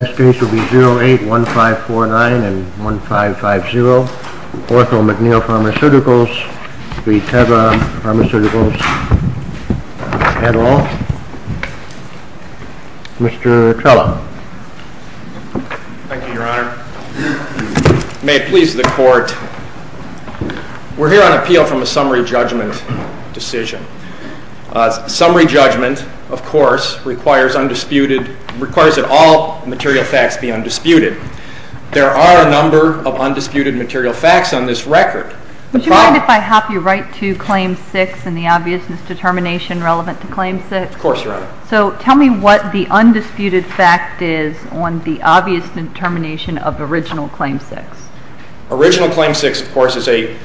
This case will be 08-1549 and 1550. Ortho-McNeil Pharmaceuticals v. Teva Pharmaceuticals, Adderall. Mr. Trello. Thank you, Your Honor. May it please the Court. We're here on appeal from a summary judgment decision. Summary judgment, of course, requires that all material facts be undisputed. There are a number of undisputed material facts on this record. Would you mind if I hop you right to Claim 6 and the obviousness determination relevant to Claim 6? Of course, Your Honor. So tell me what the undisputed fact is on the obvious determination of original Claim 6. Original Claim 6, of course, is a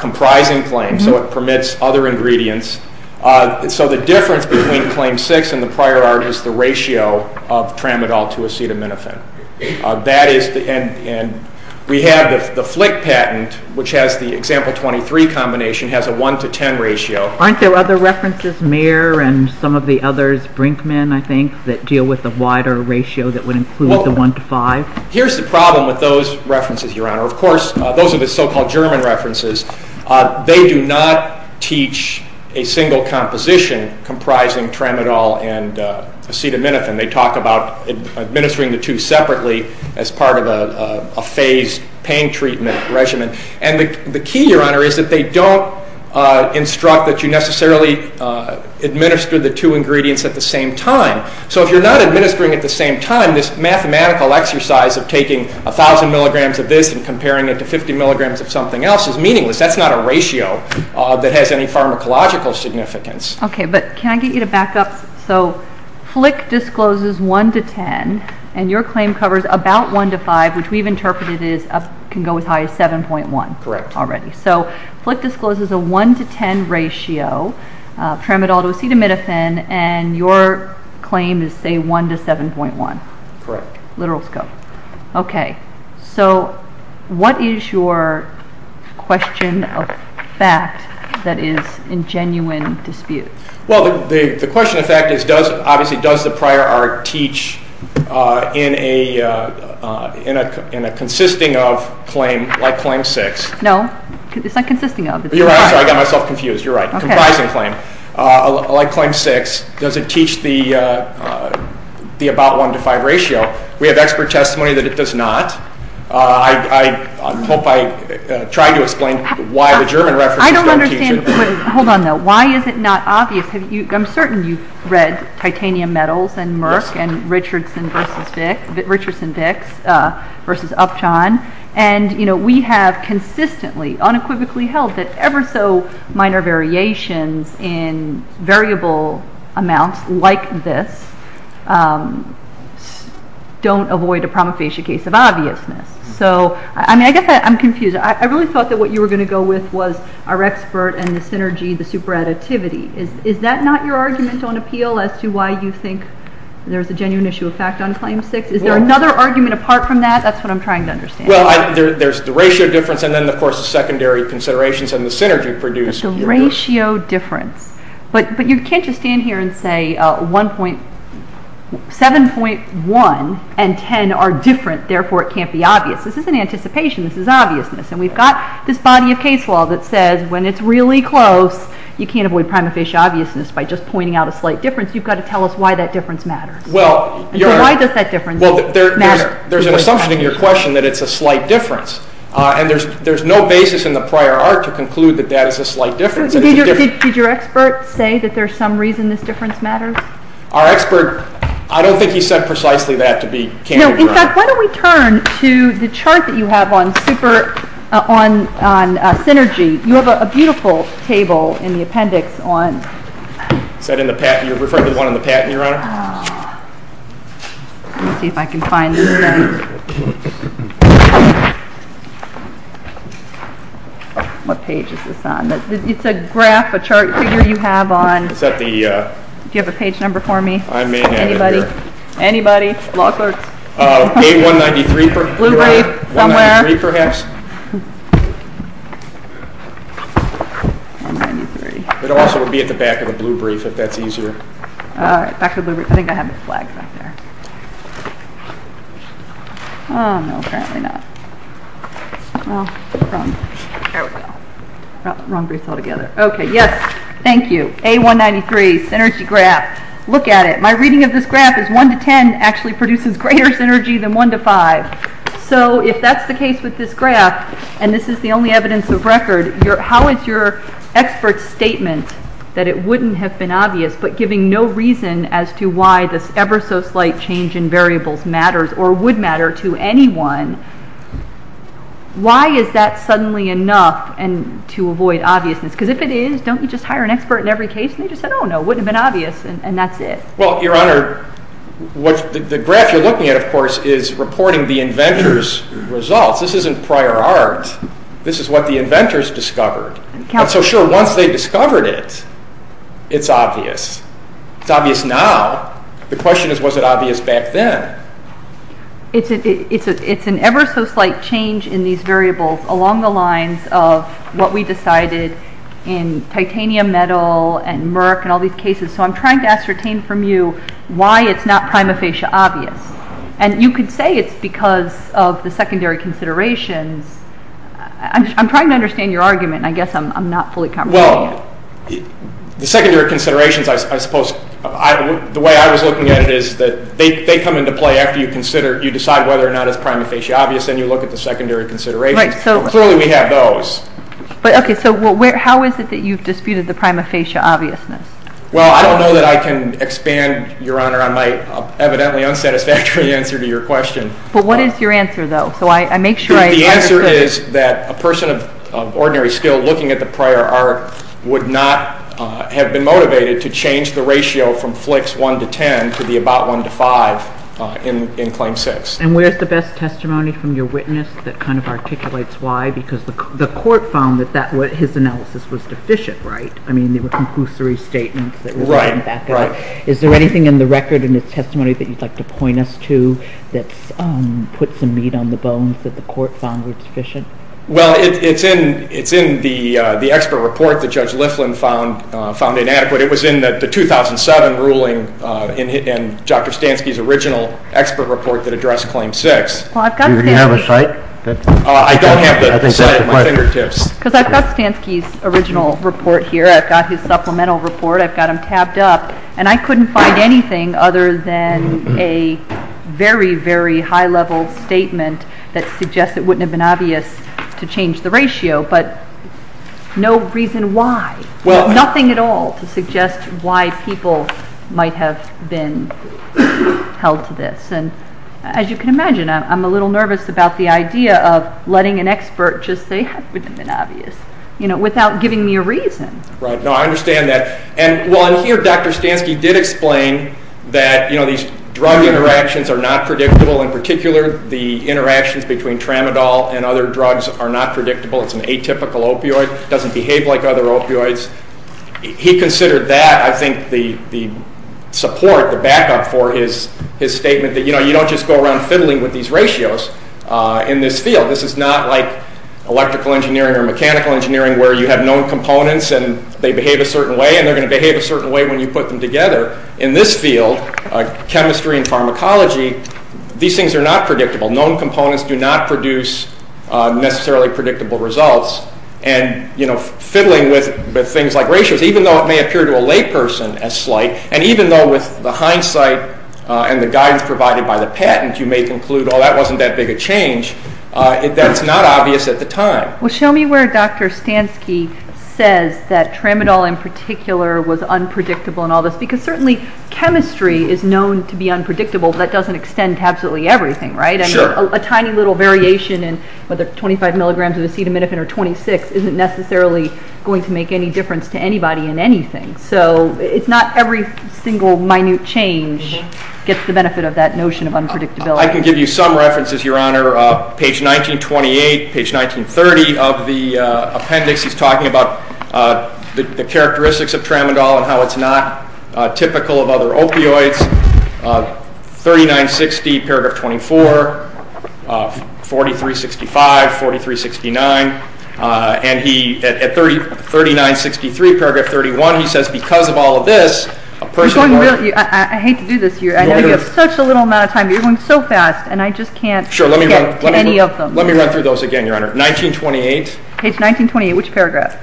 comprising claim, so it permits other ingredients. So the difference between Claim 6 and the prior art is the ratio of tramadol to acetaminophen. And we have the Flick patent, which has the example 23 combination, has a 1 to 10 ratio. Aren't there other references, Mayor, and some of the others, Brinkman, I think, that deal with the wider ratio that would include the 1 to 5? Here's the problem with those references, Your Honor. Of course, those are the so-called German references. They do not teach a single composition comprising tramadol and acetaminophen. They talk about administering the two separately as part of a phased pain treatment regimen. And the key, Your Honor, is that they don't instruct that you necessarily administer the two ingredients at the same time. So if you're not administering at the same time, this mathematical exercise of taking 1,000 milligrams of this and comparing it to 50 milligrams of something else is meaningless. That's not a ratio that has any pharmacological significance. Okay, but can I get you to back up? So Flick discloses 1 to 10, and your claim covers about 1 to 5, which we've interpreted can go as high as 7.1 already. Correct. Okay, so Flick discloses a 1 to 10 ratio, tramadol to acetaminophen, and your claim is, say, 1 to 7.1. Correct. Literal scope. Okay, so what is your question of fact that is in genuine dispute? Well, the question of fact is, obviously, does the prior art teach in a consisting of claim like claim 6? No. It's not consisting of. You're right. I got myself confused. You're right. Comprising claim. Like claim 6, does it teach the about 1 to 5 ratio? We have expert testimony that it does not. I hope I tried to explain why the German references don't teach it. I don't understand. Hold on, though. Why is it not obvious? I'm certain you've read titanium metals and Merck and Richardson-Dix versus Upjohn. And, you know, we have consistently, unequivocally held that ever so minor variations in variable amounts like this don't avoid a promofacial case of obviousness. So, I mean, I guess I'm confused. I really thought that what you were going to go with was our expert and the synergy, the superadditivity. Is that not your argument on appeal as to why you think there's a genuine issue of fact on claim 6? Is there another argument apart from that? That's what I'm trying to understand. Well, there's the ratio difference and then, of course, the secondary considerations and the synergy produced. The ratio difference. But you can't just stand here and say 7.1 and 10 are different. Therefore, it can't be obvious. This isn't anticipation. This is obviousness. And we've got this body of case law that says when it's really close, you can't avoid promofacial obviousness by just pointing out a slight difference. You've got to tell us why that difference matters. So why does that difference matter? There's an assumption in your question that it's a slight difference. And there's no basis in the prior art to conclude that that is a slight difference. Did your expert say that there's some reason this difference matters? Our expert, I don't think he said precisely that to be candid. In fact, why don't we turn to the chart that you have on synergy. You have a beautiful table in the appendix on – Is that in the patent? You're referring to the one in the patent, Your Honor? Let me see if I can find this. What page is this on? It's a graph, a chart figure you have on. Is that the – Do you have a page number for me? I may have it here. Anybody? Anybody? Law clerks? A193, Your Honor? Bluebrief, somewhere? A193, perhaps? It also would be at the back of the Bluebrief if that's easier. All right. Back of the Bluebrief. I think I have the flags back there. No, apparently not. Here we go. Wrong brief altogether. Okay. Yes. Thank you. A193, synergy graph. Look at it. My reading of this graph is 1 to 10 actually produces greater synergy than 1 to 5. So if that's the case with this graph, and this is the only evidence of record, how is your expert's statement that it wouldn't have been obvious, but giving no reason as to why this ever so slight change in variables matters or would matter to anyone, why is that suddenly enough to avoid obviousness? Because if it is, don't you just hire an expert in every case? They just said, oh, no, it wouldn't have been obvious, and that's it. Well, Your Honor, the graph you're looking at, of course, is reporting the inventor's results. This isn't prior art. This is what the inventors discovered. So, sure, once they discovered it, it's obvious. It's obvious now. The question is, was it obvious back then? It's an ever so slight change in these variables along the lines of what we decided in titanium metal and Merck and all these cases. So I'm trying to ascertain from you why it's not prima facie obvious. And you could say it's because of the secondary considerations. I'm trying to understand your argument, and I guess I'm not fully comprehending it. Well, the secondary considerations, I suppose, the way I was looking at it is that they come into play after you decide whether or not it's prima facie obvious, and you look at the secondary considerations. But clearly we have those. Okay, so how is it that you've disputed the prima facie obviousness? Well, I don't know that I can expand, Your Honor, on my evidently unsatisfactory answer to your question. But what is your answer, though? The answer is that a person of ordinary skill looking at the prior art would not have been motivated to change the ratio from flix 1 to 10 to the about 1 to 5 in Claim 6. And where's the best testimony from your witness that kind of articulates why? Because the court found that his analysis was deficient, right? I mean, there were compulsory statements that were written back up. Is there anything in the record in his testimony that you'd like to point us to that's put some meat on the bones that the court found was deficient? Well, it's in the expert report that Judge Liflin found inadequate. It was in the 2007 ruling in Dr. Stansky's original expert report that addressed Claim 6. Do you have a cite? I don't have the cite at my fingertips. Because I've got Stansky's original report here. I've got his supplemental report. I've got them tabbed up. And I couldn't find anything other than a very, very high-level statement that suggests it wouldn't have been obvious to change the ratio, but no reason why. Nothing at all to suggest why people might have been held to this. As you can imagine, I'm a little nervous about the idea of letting an expert just say it wouldn't have been obvious without giving me a reason. No, I understand that. And here Dr. Stansky did explain that these drug interactions are not predictable. In particular, the interactions between tramadol and other drugs are not predictable. It's an atypical opioid. It doesn't behave like other opioids. He considered that, I think, the support, the backup for his statement that you don't just go around fiddling with these ratios in this field. This is not like electrical engineering or mechanical engineering where you have known components and they behave a certain way, and they're going to behave a certain way when you put them together. In this field, chemistry and pharmacology, these things are not predictable. Known components do not produce necessarily predictable results. And, you know, fiddling with things like ratios, even though it may appear to a layperson as slight, and even though with the hindsight and the guidance provided by the patent, you may conclude, oh, that wasn't that big a change, that's not obvious at the time. Well, show me where Dr. Stansky says that tramadol in particular was unpredictable in all this, because certainly chemistry is known to be unpredictable. That doesn't extend to absolutely everything, right? Sure. A tiny little variation in whether 25 milligrams of acetaminophen or 26 isn't necessarily going to make any difference to anybody in anything. So it's not every single minute change gets the benefit of that notion of unpredictability. Well, I can give you some references, Your Honor. Page 1928, page 1930 of the appendix, he's talking about the characteristics of tramadol and how it's not typical of other opioids. 3960, paragraph 24, 4365, 4369. And he, at 3963, paragraph 31, he says, because of all of this, a person will I hate to do this to you. I know you have such a little amount of time, but you're going so fast, and I just can't get to any of them. Let me run through those again, Your Honor. 1928. Page 1928, which paragraph?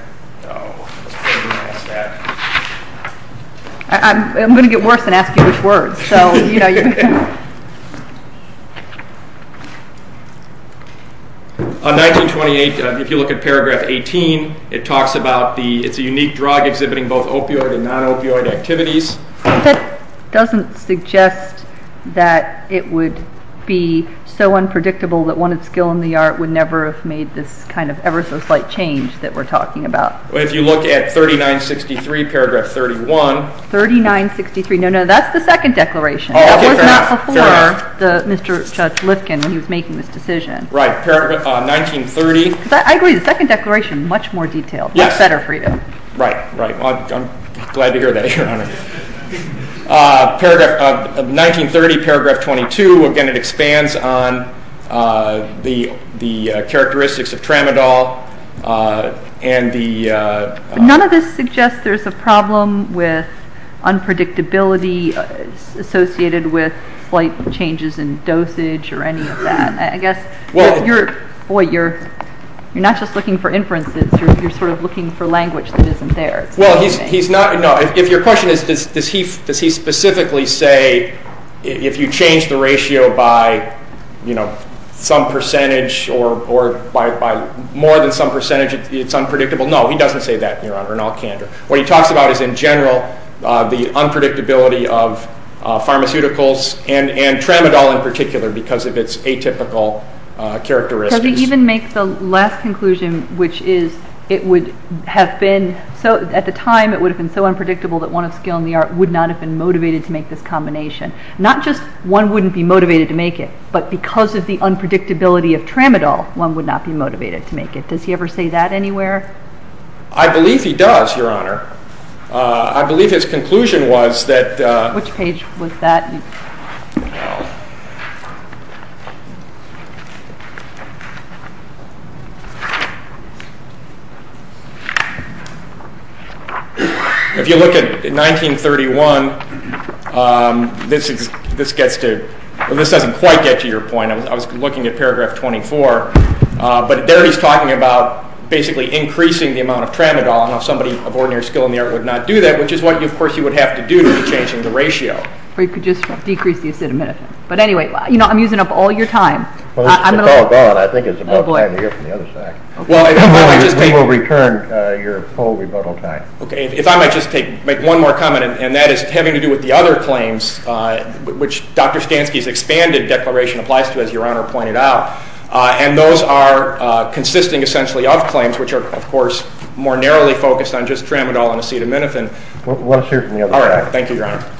I'm going to get worse and ask you which words. 1928, if you look at paragraph 18, it talks about the it's a unique drug exhibiting both opioid and non-opioid activities. That doesn't suggest that it would be so unpredictable that one with skill in the art would never have made this kind of ever so slight change that we're talking about. If you look at 3963, paragraph 31. 3963, no, no, that's the second declaration. That was not before Mr. Judge Lifkin when he was making this decision. Right, paragraph 1930. I agree, the second declaration, much more detailed. Much better for you. Right, right. I'm glad to hear that, Your Honor. 1930, paragraph 22. Again, it expands on the characteristics of tramadol and the None of this suggests there's a problem with unpredictability associated with slight changes in dosage or any of that. I guess you're, boy, you're not just looking for inferences. You're sort of looking for language that isn't there. Well, he's not, no, if your question is does he specifically say if you change the ratio by, you know, some percentage or by more than some percentage, it's unpredictable. No, he doesn't say that, Your Honor, in all candor. What he talks about is in general the unpredictability of pharmaceuticals and tramadol in particular because of its atypical characteristics. Does he even make the last conclusion, which is it would have been, at the time it would have been so unpredictable that one of skill in the art would not have been motivated to make this combination. Not just one wouldn't be motivated to make it, but because of the unpredictability of tramadol, one would not be motivated to make it. Does he ever say that anywhere? I believe he does, Your Honor. I believe his conclusion was that Which page was that? If you look at 1931, this gets to, this doesn't quite get to your point. I was looking at paragraph 24, but there he's talking about basically increasing the amount of tramadol, and if somebody of ordinary skill in the art would not do that, which is what, of course, you would have to do to be changing the ratio. Or you could just decrease the acetaminophen. But anyway, I'm using up all your time. Well, it's all gone. I think it's about time to hear from the other side. We will return your poll rebuttal time. If I might just make one more comment, and that is having to do with the other claims, which Dr. Stansky's expanded declaration applies to, as Your Honor pointed out, and those are consisting essentially of claims, which are, of course, more narrowly focused on just tramadol and acetaminophen. Why don't you hear from the other side? All right. Thank you, Your Honor.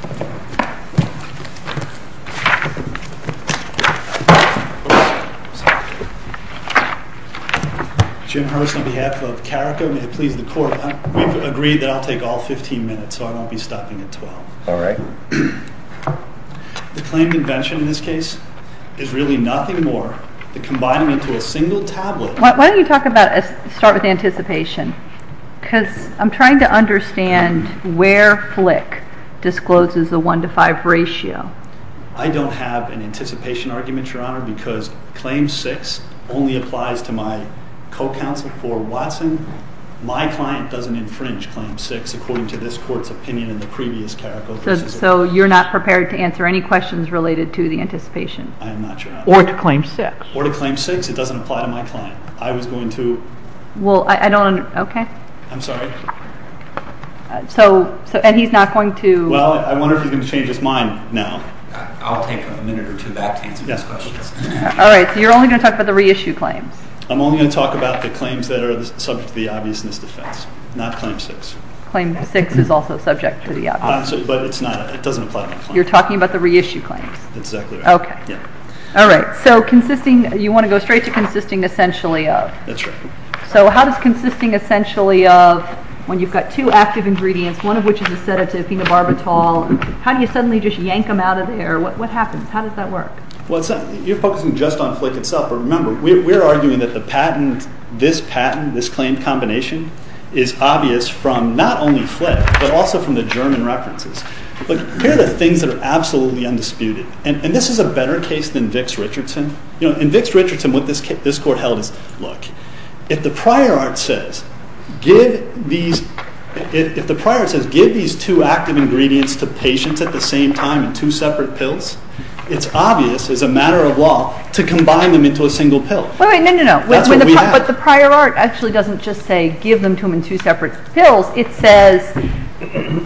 Jim Hurst on behalf of CARICA, and may it please the Court, we've agreed that I'll take all 15 minutes, so I won't be stopping at 12. All right. The claimed invention in this case is really nothing more than combining it to a single tablet. Why don't you start with anticipation? Because I'm trying to understand where Flick discloses the one-to-five ratio. I don't have an anticipation argument, Your Honor, because claim six only applies to my co-counsel for Watson. My client doesn't infringe claim six, according to this Court's opinion in the previous CARICA. So you're not prepared to answer any questions related to the anticipation? I am not, Your Honor. Or to claim six. Or to claim six. It doesn't apply to my client. I was going to. Well, I don't. Okay. I'm sorry. So, and he's not going to. Well, I wonder if he's going to change his mind now. I'll take a minute or two to answer those questions. All right. So you're only going to talk about the reissue claims? I'm only going to talk about the claims that are subject to the obviousness defense, not claim six. Claim six is also subject to the obviousness defense. But it's not. It doesn't apply to my client. You're talking about the reissue claims? Exactly right. Okay. Yeah. All right. So consisting, you want to go straight to consisting essentially of. That's right. So how does consisting essentially of, when you've got two active ingredients, one of which is a sedative, phenobarbital, how do you suddenly just yank them out of there? What happens? How does that work? Well, you're focusing just on Flick itself. But remember, we're arguing that the patent, this patent, this claim combination is obvious from not only Flick, but also from the German references. But here are the things that are absolutely undisputed. And this is a better case than Vicks-Richardson. In Vicks-Richardson, what this court held is, look, if the prior art says, give these two active ingredients to patients at the same time in two separate pills, it's obvious as a matter of law to combine them into a single pill. Wait, wait, no, no, no. That's what we have. But the prior art actually doesn't just say give them to them in two separate pills. It says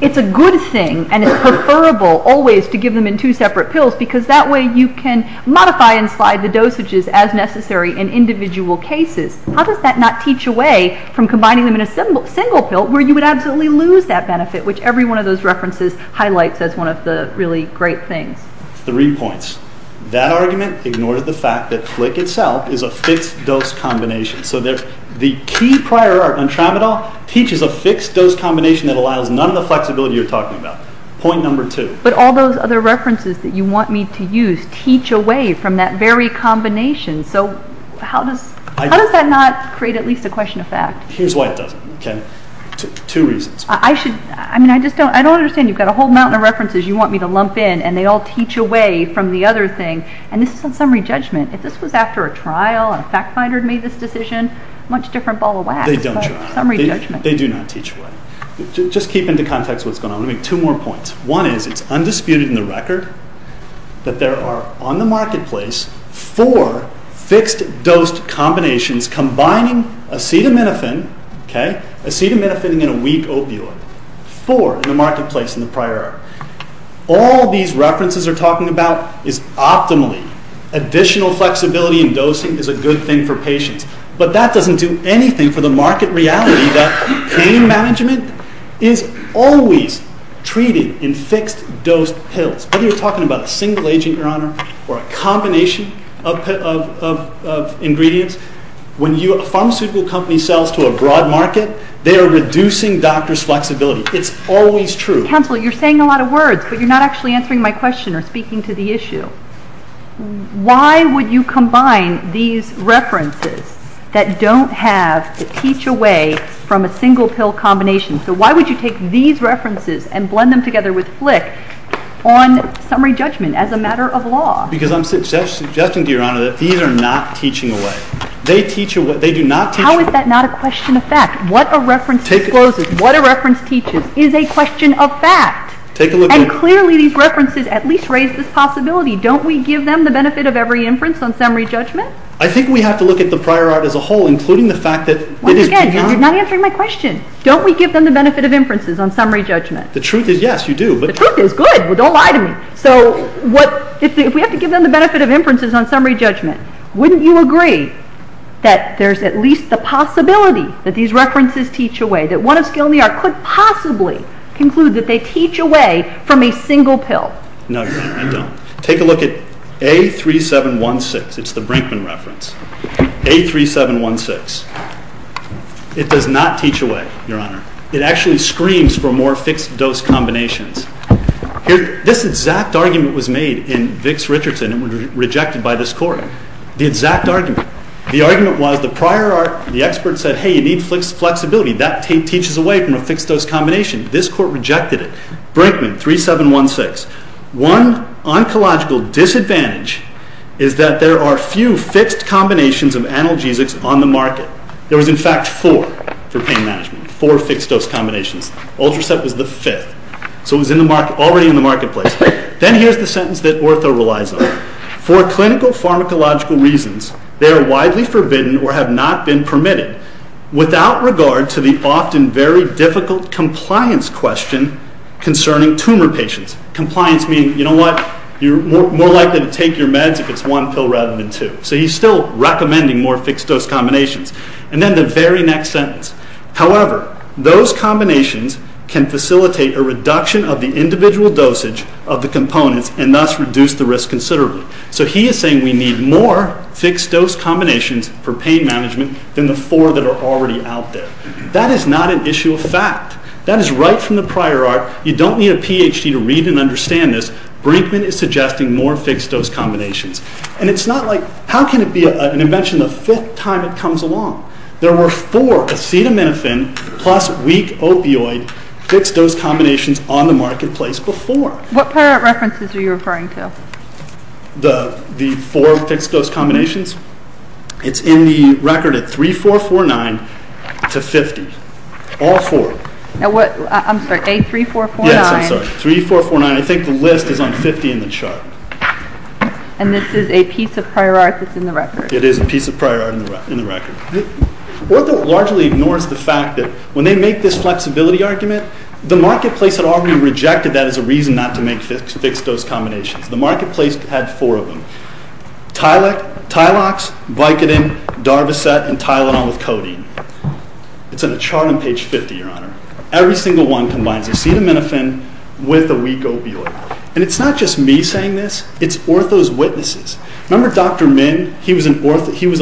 it's a good thing and it's preferable always to give them in two separate pills because that way you can modify and slide the dosages as necessary in individual cases. How does that not teach away from combining them in a single pill where you would absolutely lose that benefit, which every one of those references highlights as one of the really great things? Three points. That argument ignores the fact that Flick itself is a fixed-dose combination. So the key prior art on Tramadol teaches a fixed-dose combination that allows none of the flexibility you're talking about. Point number two. But all those other references that you want me to use teach away from that very combination. So how does that not create at least a question of fact? Here's why it doesn't. Two reasons. I don't understand. You've got a whole mountain of references you want me to lump in, and they all teach away from the other thing. And this is on summary judgment. If this was after a trial and a fact finder had made this decision, a much different ball of wax. They don't try. Summary judgment. They do not teach away. Just keep into context what's going on. Let me make two more points. One is it's undisputed in the record that there are on the marketplace four fixed-dose combinations combining acetaminophen, acetaminophen in a weak opioid, four in the marketplace in the prior art. All these references are talking about is optimally additional flexibility in dosing is a good thing for patients. But that doesn't do anything for the market reality that pain management is always treated in fixed-dose pills. Whether you're talking about a single agent, Your Honor, or a combination of ingredients, when a pharmaceutical company sells to a broad market, they are reducing doctors' flexibility. It's always true. Mr. Counsel, you're saying a lot of words, but you're not actually answering my question or speaking to the issue. Why would you combine these references that don't have the teach away from a single pill combination? So why would you take these references and blend them together with flick on summary judgment as a matter of law? Because I'm suggesting, Your Honor, that these are not teaching away. They teach away. They do not teach away. How is that not a question of fact? What a reference discloses, what a reference teaches, is a question of fact. And clearly these references at least raise this possibility. Don't we give them the benefit of every inference on summary judgment? I think we have to look at the prior art as a whole, including the fact that it is… Once again, you're not answering my question. Don't we give them the benefit of inferences on summary judgment? The truth is yes, you do. The truth is good. Don't lie to me. So if we have to give them the benefit of inferences on summary judgment, wouldn't you agree that there's at least the possibility that these references teach away, that one of skill in the art could possibly conclude that they teach away from a single pill? No, Your Honor, I don't. Take a look at A3716. It's the Brinkman reference. A3716. It does not teach away, Your Honor. It actually screams for more fixed dose combinations. This exact argument was made in Vicks-Richardson and was rejected by this Court. The exact argument. The argument was the prior art, the expert said, hey, you need flexibility. That teaches away from a fixed dose combination. This Court rejected it. Brinkman, A3716. One oncological disadvantage is that there are few fixed combinations of analgesics on the market. There was, in fact, four for pain management, four fixed dose combinations. Ultracept was the fifth. So it was already in the marketplace. Then here's the sentence that Ortho relies on. For clinical pharmacological reasons, they are widely forbidden or have not been permitted without regard to the often very difficult compliance question concerning tumor patients. Compliance meaning, you know what, you're more likely to take your meds if it's one pill rather than two. So he's still recommending more fixed dose combinations. And then the very next sentence. However, those combinations can facilitate a reduction of the individual dosage of the components and thus reduce the risk considerably. So he is saying we need more fixed dose combinations for pain management than the four that are already out there. That is not an issue of fact. That is right from the prior art. You don't need a PhD to read and understand this. Brinkman is suggesting more fixed dose combinations. And it's not like, how can it be an invention the fifth time it comes along? There were four acetaminophen plus weak opioid fixed dose combinations on the marketplace before. What prior art references are you referring to? The four fixed dose combinations. It's in the record at 3449 to 50. All four. I'm sorry, A3449. Yes, I'm sorry, 3449. I think the list is on 50 in the chart. And this is a piece of prior art that's in the record. It is a piece of prior art in the record. Ortho largely ignores the fact that when they make this flexibility argument, the marketplace had already rejected that as a reason not to make fixed dose combinations. The marketplace had four of them. Tylex, Vicodin, Darvocet, and Tylenol with codeine. It's on a chart on page 50, Your Honor. Every single one combines acetaminophen with a weak opioid. And it's not just me saying this. It's Ortho's witnesses. Remember Dr. Min? He was a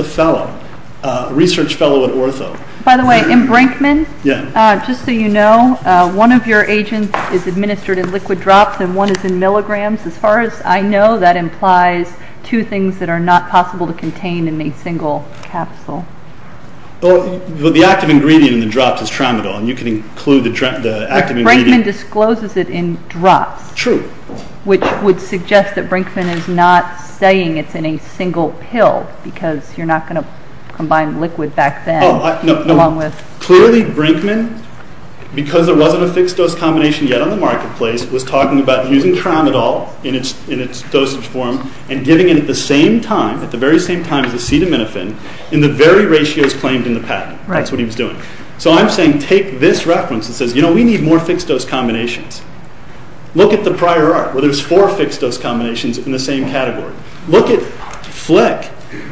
fellow, a research fellow at Ortho. By the way, in Brinkman, just so you know, one of your agents is administered in liquid drops and one is in milligrams. As far as I know, that implies two things that are not possible to contain in a single capsule. Well, the active ingredient in the drops is tramadol, and you can include the active ingredient. Brinkman discloses it in drops. True. Which would suggest that Brinkman is not saying it's in a single pill because you're not going to combine liquid back then. Clearly, Brinkman, because there wasn't a fixed-dose combination yet on the marketplace, was talking about using tramadol in its dosage form and giving it at the very same time as acetaminophen in the very ratios claimed in the patent. That's what he was doing. So I'm saying take this reference that says, you know, we need more fixed-dose combinations. Look at the prior art, where there's four fixed-dose combinations in the same category. Look at Flick,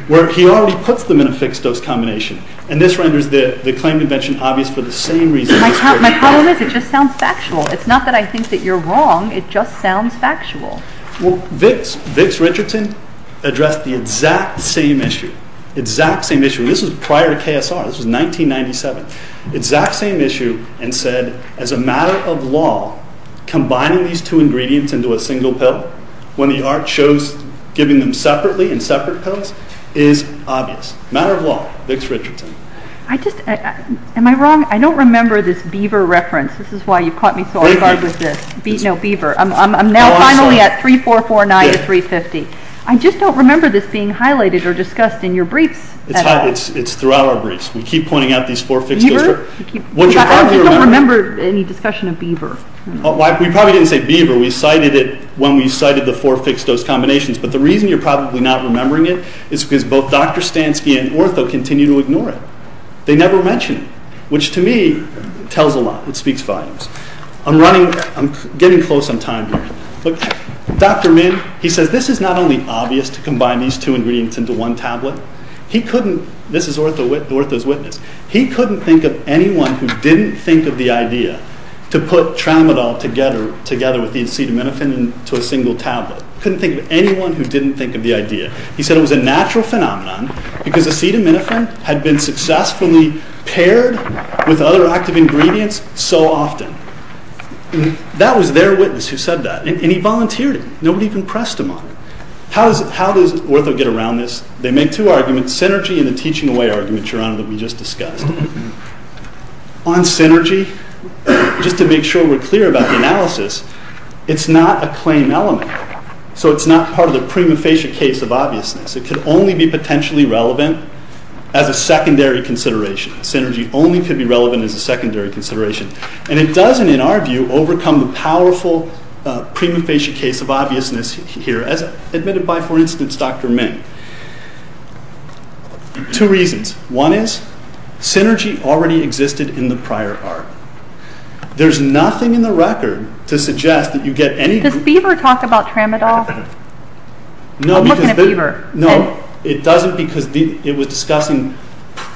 where he already puts them in a fixed-dose combination, and this renders the claim invention obvious for the same reason. My problem is it just sounds factual. It's not that I think that you're wrong. It just sounds factual. Well, Vicks, Vicks-Richardson addressed the exact same issue, exact same issue. This was prior to KSR. This was 1997. Exact same issue, and said, as a matter of law, combining these two ingredients into a single pill, when the art shows giving them separately in separate pills, is obvious. Matter of law. Vicks-Richardson. I just, am I wrong? I don't remember this Beaver reference. This is why you've caught me so off guard with this. No, Beaver. I'm now finally at 3449 to 350. I just don't remember this being highlighted or discussed in your briefs. It's throughout our briefs. We keep pointing out these four fixed-dose. I just don't remember any discussion of Beaver. We probably didn't say Beaver. We cited it when we cited the four fixed-dose combinations, but the reason you're probably not remembering it is because both Dr. Stansky and Ortho continue to ignore it. They never mention it, which, to me, tells a lot. It speaks volumes. I'm running, I'm getting close on time here. Look, Dr. Min, he says, this is not only obvious to combine these two ingredients into one tablet. He couldn't, this is Ortho's witness, he couldn't think of anyone who didn't think of the idea to put tramadol together with the acetaminophen into a single tablet. Couldn't think of anyone who didn't think of the idea. He said it was a natural phenomenon because acetaminophen had been successfully paired with other active ingredients so often. That was their witness who said that, and he volunteered it. Nobody even pressed him on it. How does Ortho get around this? They make two arguments, synergy and the teaching away argument, Your Honor, that we just discussed. On synergy, just to make sure we're clear about the analysis, it's not a claim element. So it's not part of the prima facie case of obviousness. It could only be potentially relevant as a secondary consideration. Synergy only could be relevant as a secondary consideration. And it doesn't, in our view, overcome the powerful prima facie case of obviousness here, as admitted by, for instance, Dr. Min. Two reasons. One is, synergy already existed in the prior art. There's nothing in the record to suggest that you get any... Does Beaver talk about tramadol? I'm looking at Beaver. No, it doesn't because it was discussing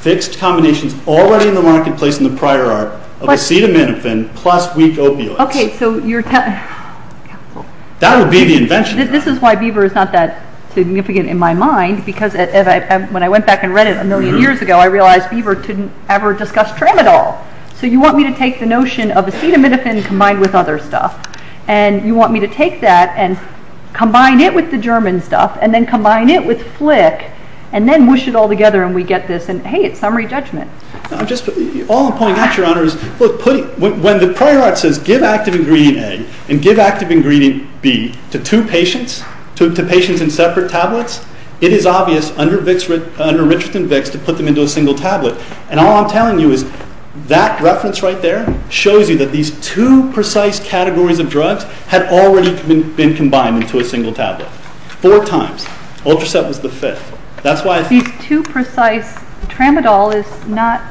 fixed combinations already in the marketplace in the prior art of acetaminophen plus weak opioids. Okay, so you're telling... That would be the invention. This is why Beaver is not that significant in my mind because when I went back and read it a million years ago, I realized Beaver didn't ever discuss tramadol. So you want me to take the notion of acetaminophen combined with other stuff, and you want me to take that and combine it with the German stuff and then combine it with Flick and then whoosh it all together and we get this, and hey, it's summary judgment. All I'm pointing out, Your Honor, is when the prior art says give active ingredient A and give active ingredient B to two patients, to patients in separate tablets, it is obvious under Richardson-Vicks to put them into a single tablet. And all I'm telling you is that reference right there shows you that these two precise categories of drugs had already been combined into a single tablet. Four times. Ultraset was the fifth. These two precise... Tramadol is not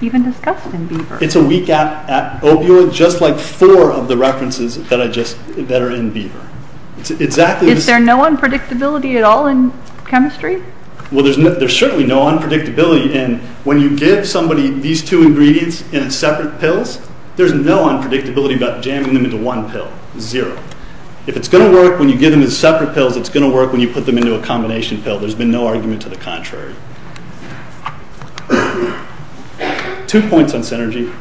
even discussed in Beaver. It's a weak opioid, just like four of the references that are in Beaver. Is there no unpredictability at all in chemistry? Well, there's certainly no unpredictability in when you give somebody these two ingredients in separate pills, there's no unpredictability about jamming them into one pill. Zero. If it's going to work when you give them in separate pills, it's going to work when you put them into a combination pill. There's been no argument to the contrary. Two points on synergy.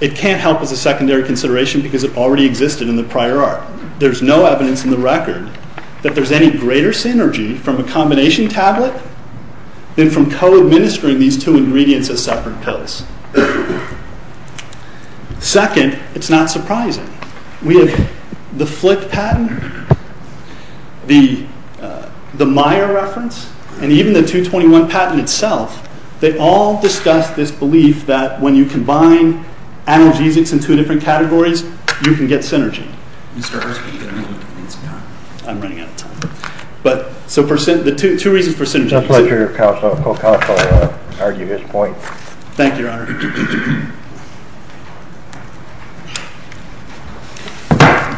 It can't help as a secondary consideration because it already existed in the prior art. There's no evidence in the record that there's any greater synergy from a combination tablet than from co-administering these two ingredients as separate pills. Second, it's not surprising. We have the Flick patent, the Meyer reference, and even the 221 patent itself, they all discuss this belief that when you combine analgesics in two different categories, you can get synergy. Mr. Hirschman, you've got a moment. I'm running out of time. So two reasons for synergy. It's a pleasure, Co-Counsel. I'll argue his point. Thank you, Your Honor.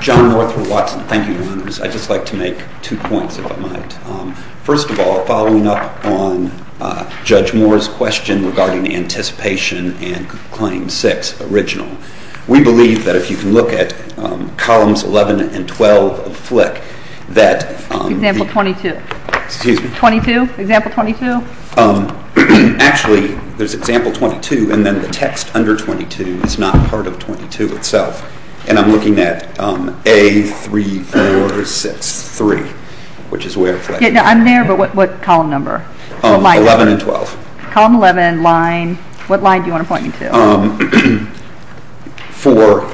John Northwood Watson. Thank you, Your Honors. I'd just like to make two points, if I might. First of all, following up on Judge Moore's question regarding the anticipation and Claim 6 original, we believe that if you can look at columns 11 and 12 of Flick, that... Example 22. Excuse me? 22? Example 22? Actually, there's example 22, and then the text under 22 is not part of 22 itself. And I'm looking at A3463, which is where Flick is. I'm there, but what column number? 11 and 12. Column 11, line... What line do you want to point me to? For...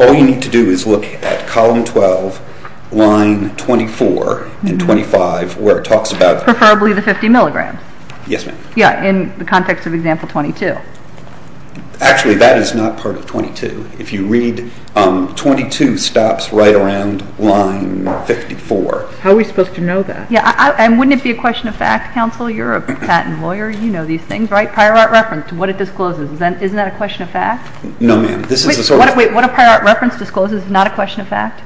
All you need to do is look at column 12, line 24 and 25, where it talks about... Preferably the 50 milligrams. Yes, ma'am. Yeah, in the context of example 22. Actually, that is not part of 22. If you read 22 stops right around line 54. How are we supposed to know that? Yeah, and wouldn't it be a question of fact, Counsel? You're a patent lawyer. You know these things, right? A prior art reference, what it discloses, isn't that a question of fact? No, ma'am. This is a sort of... Wait, what a prior art reference discloses is not a question of fact?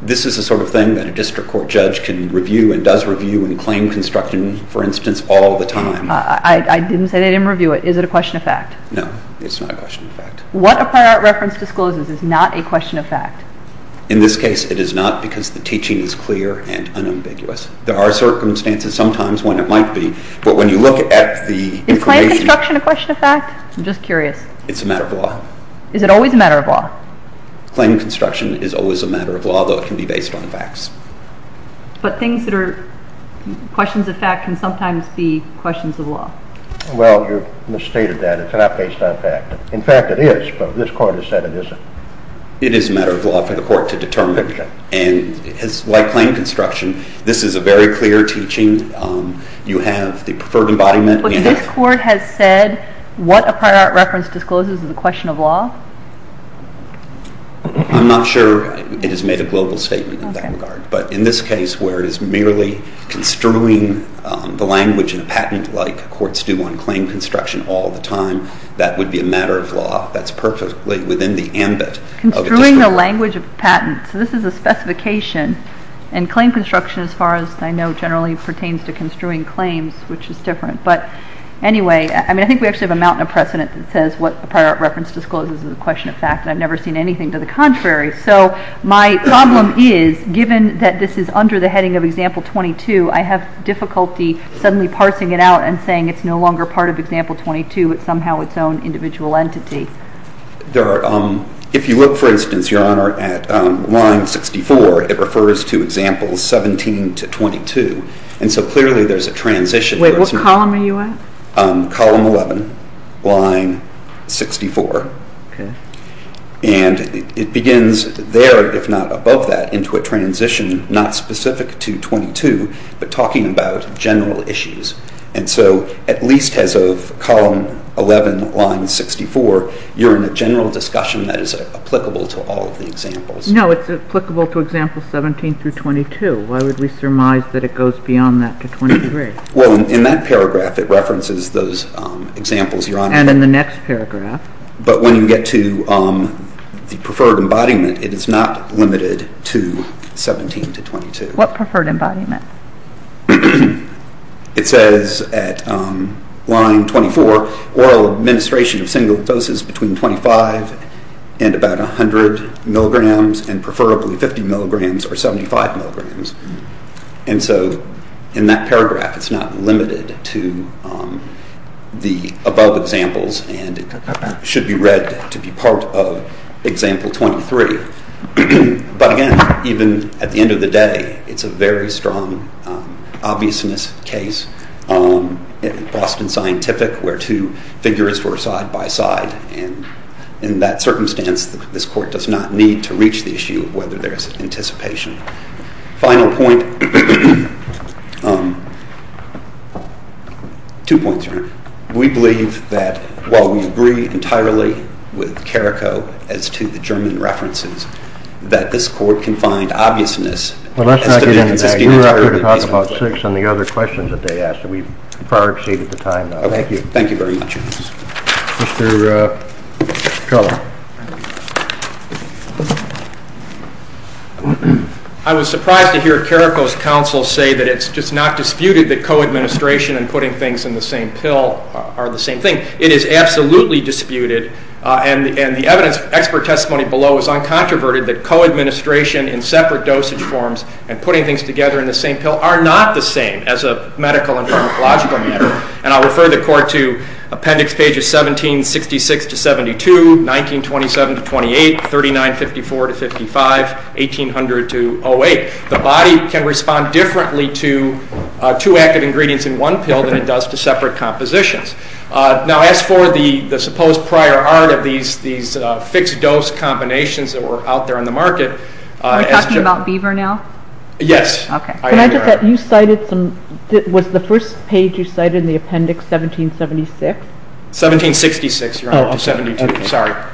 This is the sort of thing that a district court judge can review and does review in claim construction, for instance, all the time. I didn't say they didn't review it. Is it a question of fact? No, it's not a question of fact. What a prior art reference discloses is not a question of fact? In this case, it is not because the teaching is clear and unambiguous. There are circumstances sometimes when it might be, but when you look at the information... Is claim construction a question of fact? I'm just curious. It's a matter of law. Is it always a matter of law? Claim construction is always a matter of law, though it can be based on facts. But things that are questions of fact can sometimes be questions of law. Well, you've misstated that. It's not based on fact. In fact, it is, but this court has said it isn't. It is a matter of law for the court to determine, and like claim construction, this is a very clear teaching. You have the preferred embodiment. But this court has said what a prior art reference discloses is a question of law? I'm not sure it has made a global statement in that regard. But in this case, where it is merely construing the language in a patent, like courts do on claim construction all the time, that would be a matter of law. That's perfectly within the ambit of a different... Construing the language of a patent. So this is a specification, and claim construction, as far as I know, generally pertains to construing claims, which is different. But anyway, I think we actually have a mountain of precedent that says what a prior art reference discloses is a question of fact, and I've never seen anything to the contrary. So my problem is, given that this is under the heading of Example 22, I have difficulty suddenly parsing it out and saying it's no longer part of Example 22. It's somehow its own individual entity. If you look, for instance, Your Honor, at line 64, it refers to Examples 17 to 22, and so clearly there's a transition. Wait, what column are you at? Column 11, line 64. And it begins there, if not above that, into a transition not specific to 22, but talking about general issues. And so at least as of column 11, line 64, you're in a general discussion that is applicable to all of the examples. No, it's applicable to Examples 17 through 22. Why would we surmise that it goes beyond that to 23? Well, in that paragraph it references those examples, Your Honor. And in the next paragraph? But when you get to the preferred embodiment, it is not limited to 17 to 22. What preferred embodiment? It says at line 24, oral administration of single doses between 25 and about 100 milligrams and preferably 50 milligrams or 75 milligrams. And so in that paragraph it's not limited to the above examples and it should be read to be part of Example 23. But again, even at the end of the day, it's a very strong obviousness case. In Boston Scientific, where two figures were side by side. And in that circumstance, this Court does not need to reach the issue of whether there's anticipation. Final point. Two points, Your Honor. We believe that while we agree entirely with Carrico as to the German references, that this Court can find obviousness as to the consistency We are here to talk about six and the other questions that they asked, and we've far exceeded the time. Thank you. Thank you very much. Mr. Keller. I was surprised to hear Carrico's counsel say that it's just not disputed that co-administration and putting things in the same pill are the same thing. It is absolutely disputed, and the expert testimony below is uncontroverted, that co-administration in separate dosage forms and putting things together in the same pill are not the same as a medical and pharmacological matter. And I'll refer the Court to Appendix Pages 1766-72, 1927-28, 3954-55, 1800-08. The body can respond differently to two active ingredients in one pill than it does to separate compositions. Now, as for the supposed prior art of these fixed dose combinations that were out there on the market... Are we talking about Beaver now? Yes. Was the first page you cited in the Appendix 1776? 1766. Oh, okay.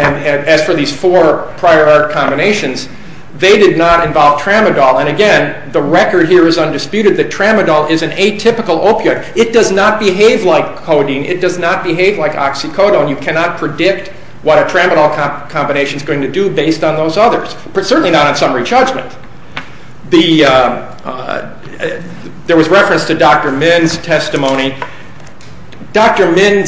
And as for these four prior art combinations, they did not involve tramadol. And again, the record here is undisputed that tramadol is an atypical opiate. It does not behave like codeine. It does not behave like oxycodone. You cannot predict what a tramadol combination is going to do based on those others, certainly not on summary judgment. There was reference to Dr. Min's testimony. Dr. Min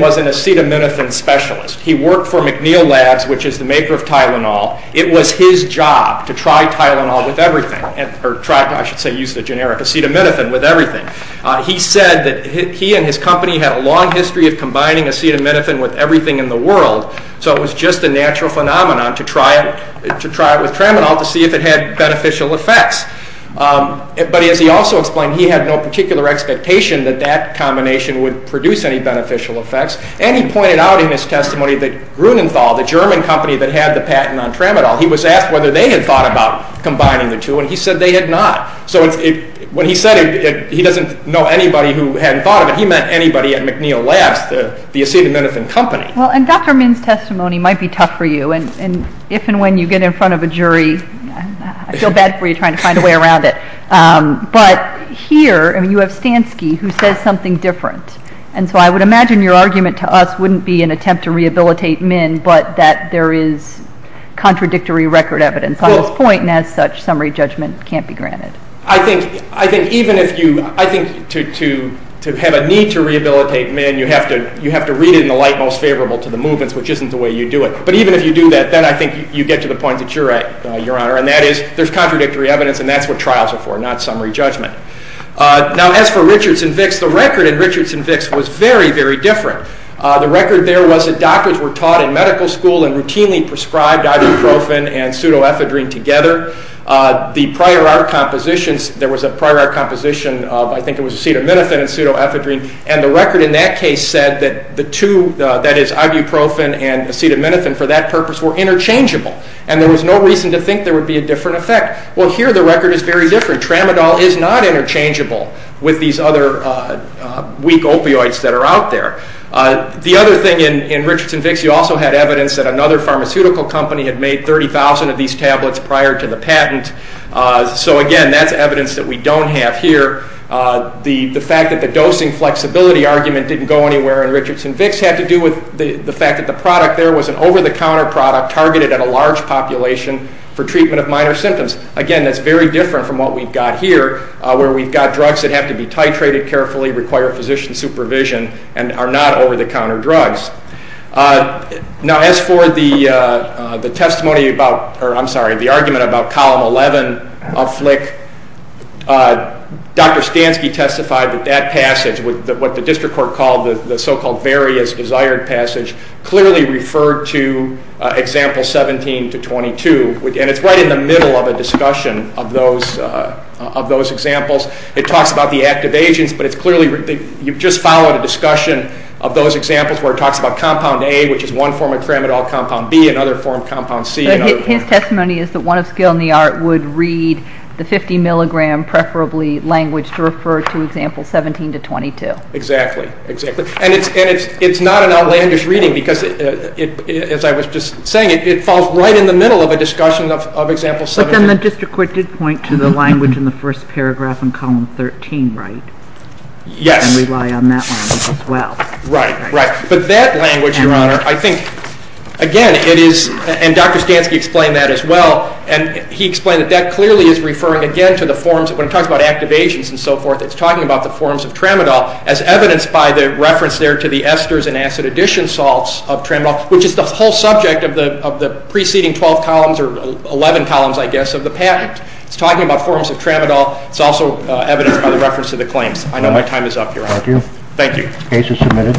was an acetaminophen specialist. He worked for McNeil Labs, which is the maker of Tylenol. It was his job to try Tylenol with everything, or I should say use the generic acetaminophen with everything. He said that he and his company had a long history of combining acetaminophen with everything in the world, so it was just a natural phenomenon to try it with tramadol to see if it had beneficial effects. But as he also explained, he had no particular expectation that that combination would produce any beneficial effects. And he pointed out in his testimony that Grunenthal, the German company that had the patent on tramadol, he was asked whether they had thought about combining the two, and he said they had not. So when he said he doesn't know anybody who hadn't thought of it, he meant anybody at McNeil Labs, the acetaminophen company. Well, and Dr. Min's testimony might be tough for you, and if and when you get in front of a jury, I feel bad for you trying to find a way around it. But here, you have Stansky, who says something different, and so I would imagine your argument to us wouldn't be an attempt to rehabilitate Min, but that there is contradictory record evidence on this point, and as such, summary judgment can't be granted. I think even if you... I think to have a need to rehabilitate Min, you have to read it in the light most favorable to the movements, which isn't the way you do it. But even if you do that, then I think you get to the point that you're at, Your Honor, and that is there's contradictory evidence, and that's what trials are for, not summary judgment. Now, as for Richards and Vicks, the record in Richards and Vicks was very, very different. The record there was that doctors were taught in medical school and routinely prescribed ibuprofen and pseudoephedrine together. The prior art compositions, there was a prior art composition of, I think it was acetaminophen and pseudoephedrine, and the record in that case said that the two, that is ibuprofen and acetaminophen, for that purpose were interchangeable, and there was no reason to think there would be a different effect. Well, here the record is very different. Tramadol is not interchangeable with these other weak opioids that are out there. The other thing in Richards and Vicks, you also had evidence that another pharmaceutical company had made 30,000 of these tablets prior to the patent. So, again, that's evidence that we don't have here. The fact that the dosing flexibility argument didn't go anywhere in Richards and Vicks had to do with the fact that the product there was an over-the-counter product targeted at a large population for treatment of minor symptoms. Again, that's very different from what we've got here, where we've got drugs that have to be titrated carefully, require physician supervision, and are not over-the-counter drugs. Now, as for the argument about Column 11 of FLCC, Dr. Stansky testified that that passage, what the district court called the so-called various desired passage, clearly referred to Example 17-22, and it's right in the middle of a discussion of those examples. It talks about the active agents, but you've just followed a discussion of those examples where it talks about Compound A, which is one form of tramadol, Compound B, another form, Compound C. But his testimony is that one of skill in the art would read the 50-milligram, preferably, language to refer to Example 17-22. Exactly. And it's not an outlandish reading because, as I was just saying, it falls right in the middle of a discussion of Example 17. But then the district court did point to the language in the first paragraph in Column 13, right? Yes. And rely on that language as well. Right, right. But that language, Your Honor, I think, again, it is, and Dr. Stansky explained that as well, and he explained that that clearly is referring again to the forms, when it talks about activations and so forth, it's talking about the forms of tramadol as evidenced by the reference there to the esters and acid addition salts of tramadol, which is the whole subject of the preceding 12 columns, or 11 columns, I guess, of the patent. It's talking about forms of tramadol. It's also evidenced by the reference to the claims. I know my time is up, Your Honor. Thank you. Thank you. Case is submitted.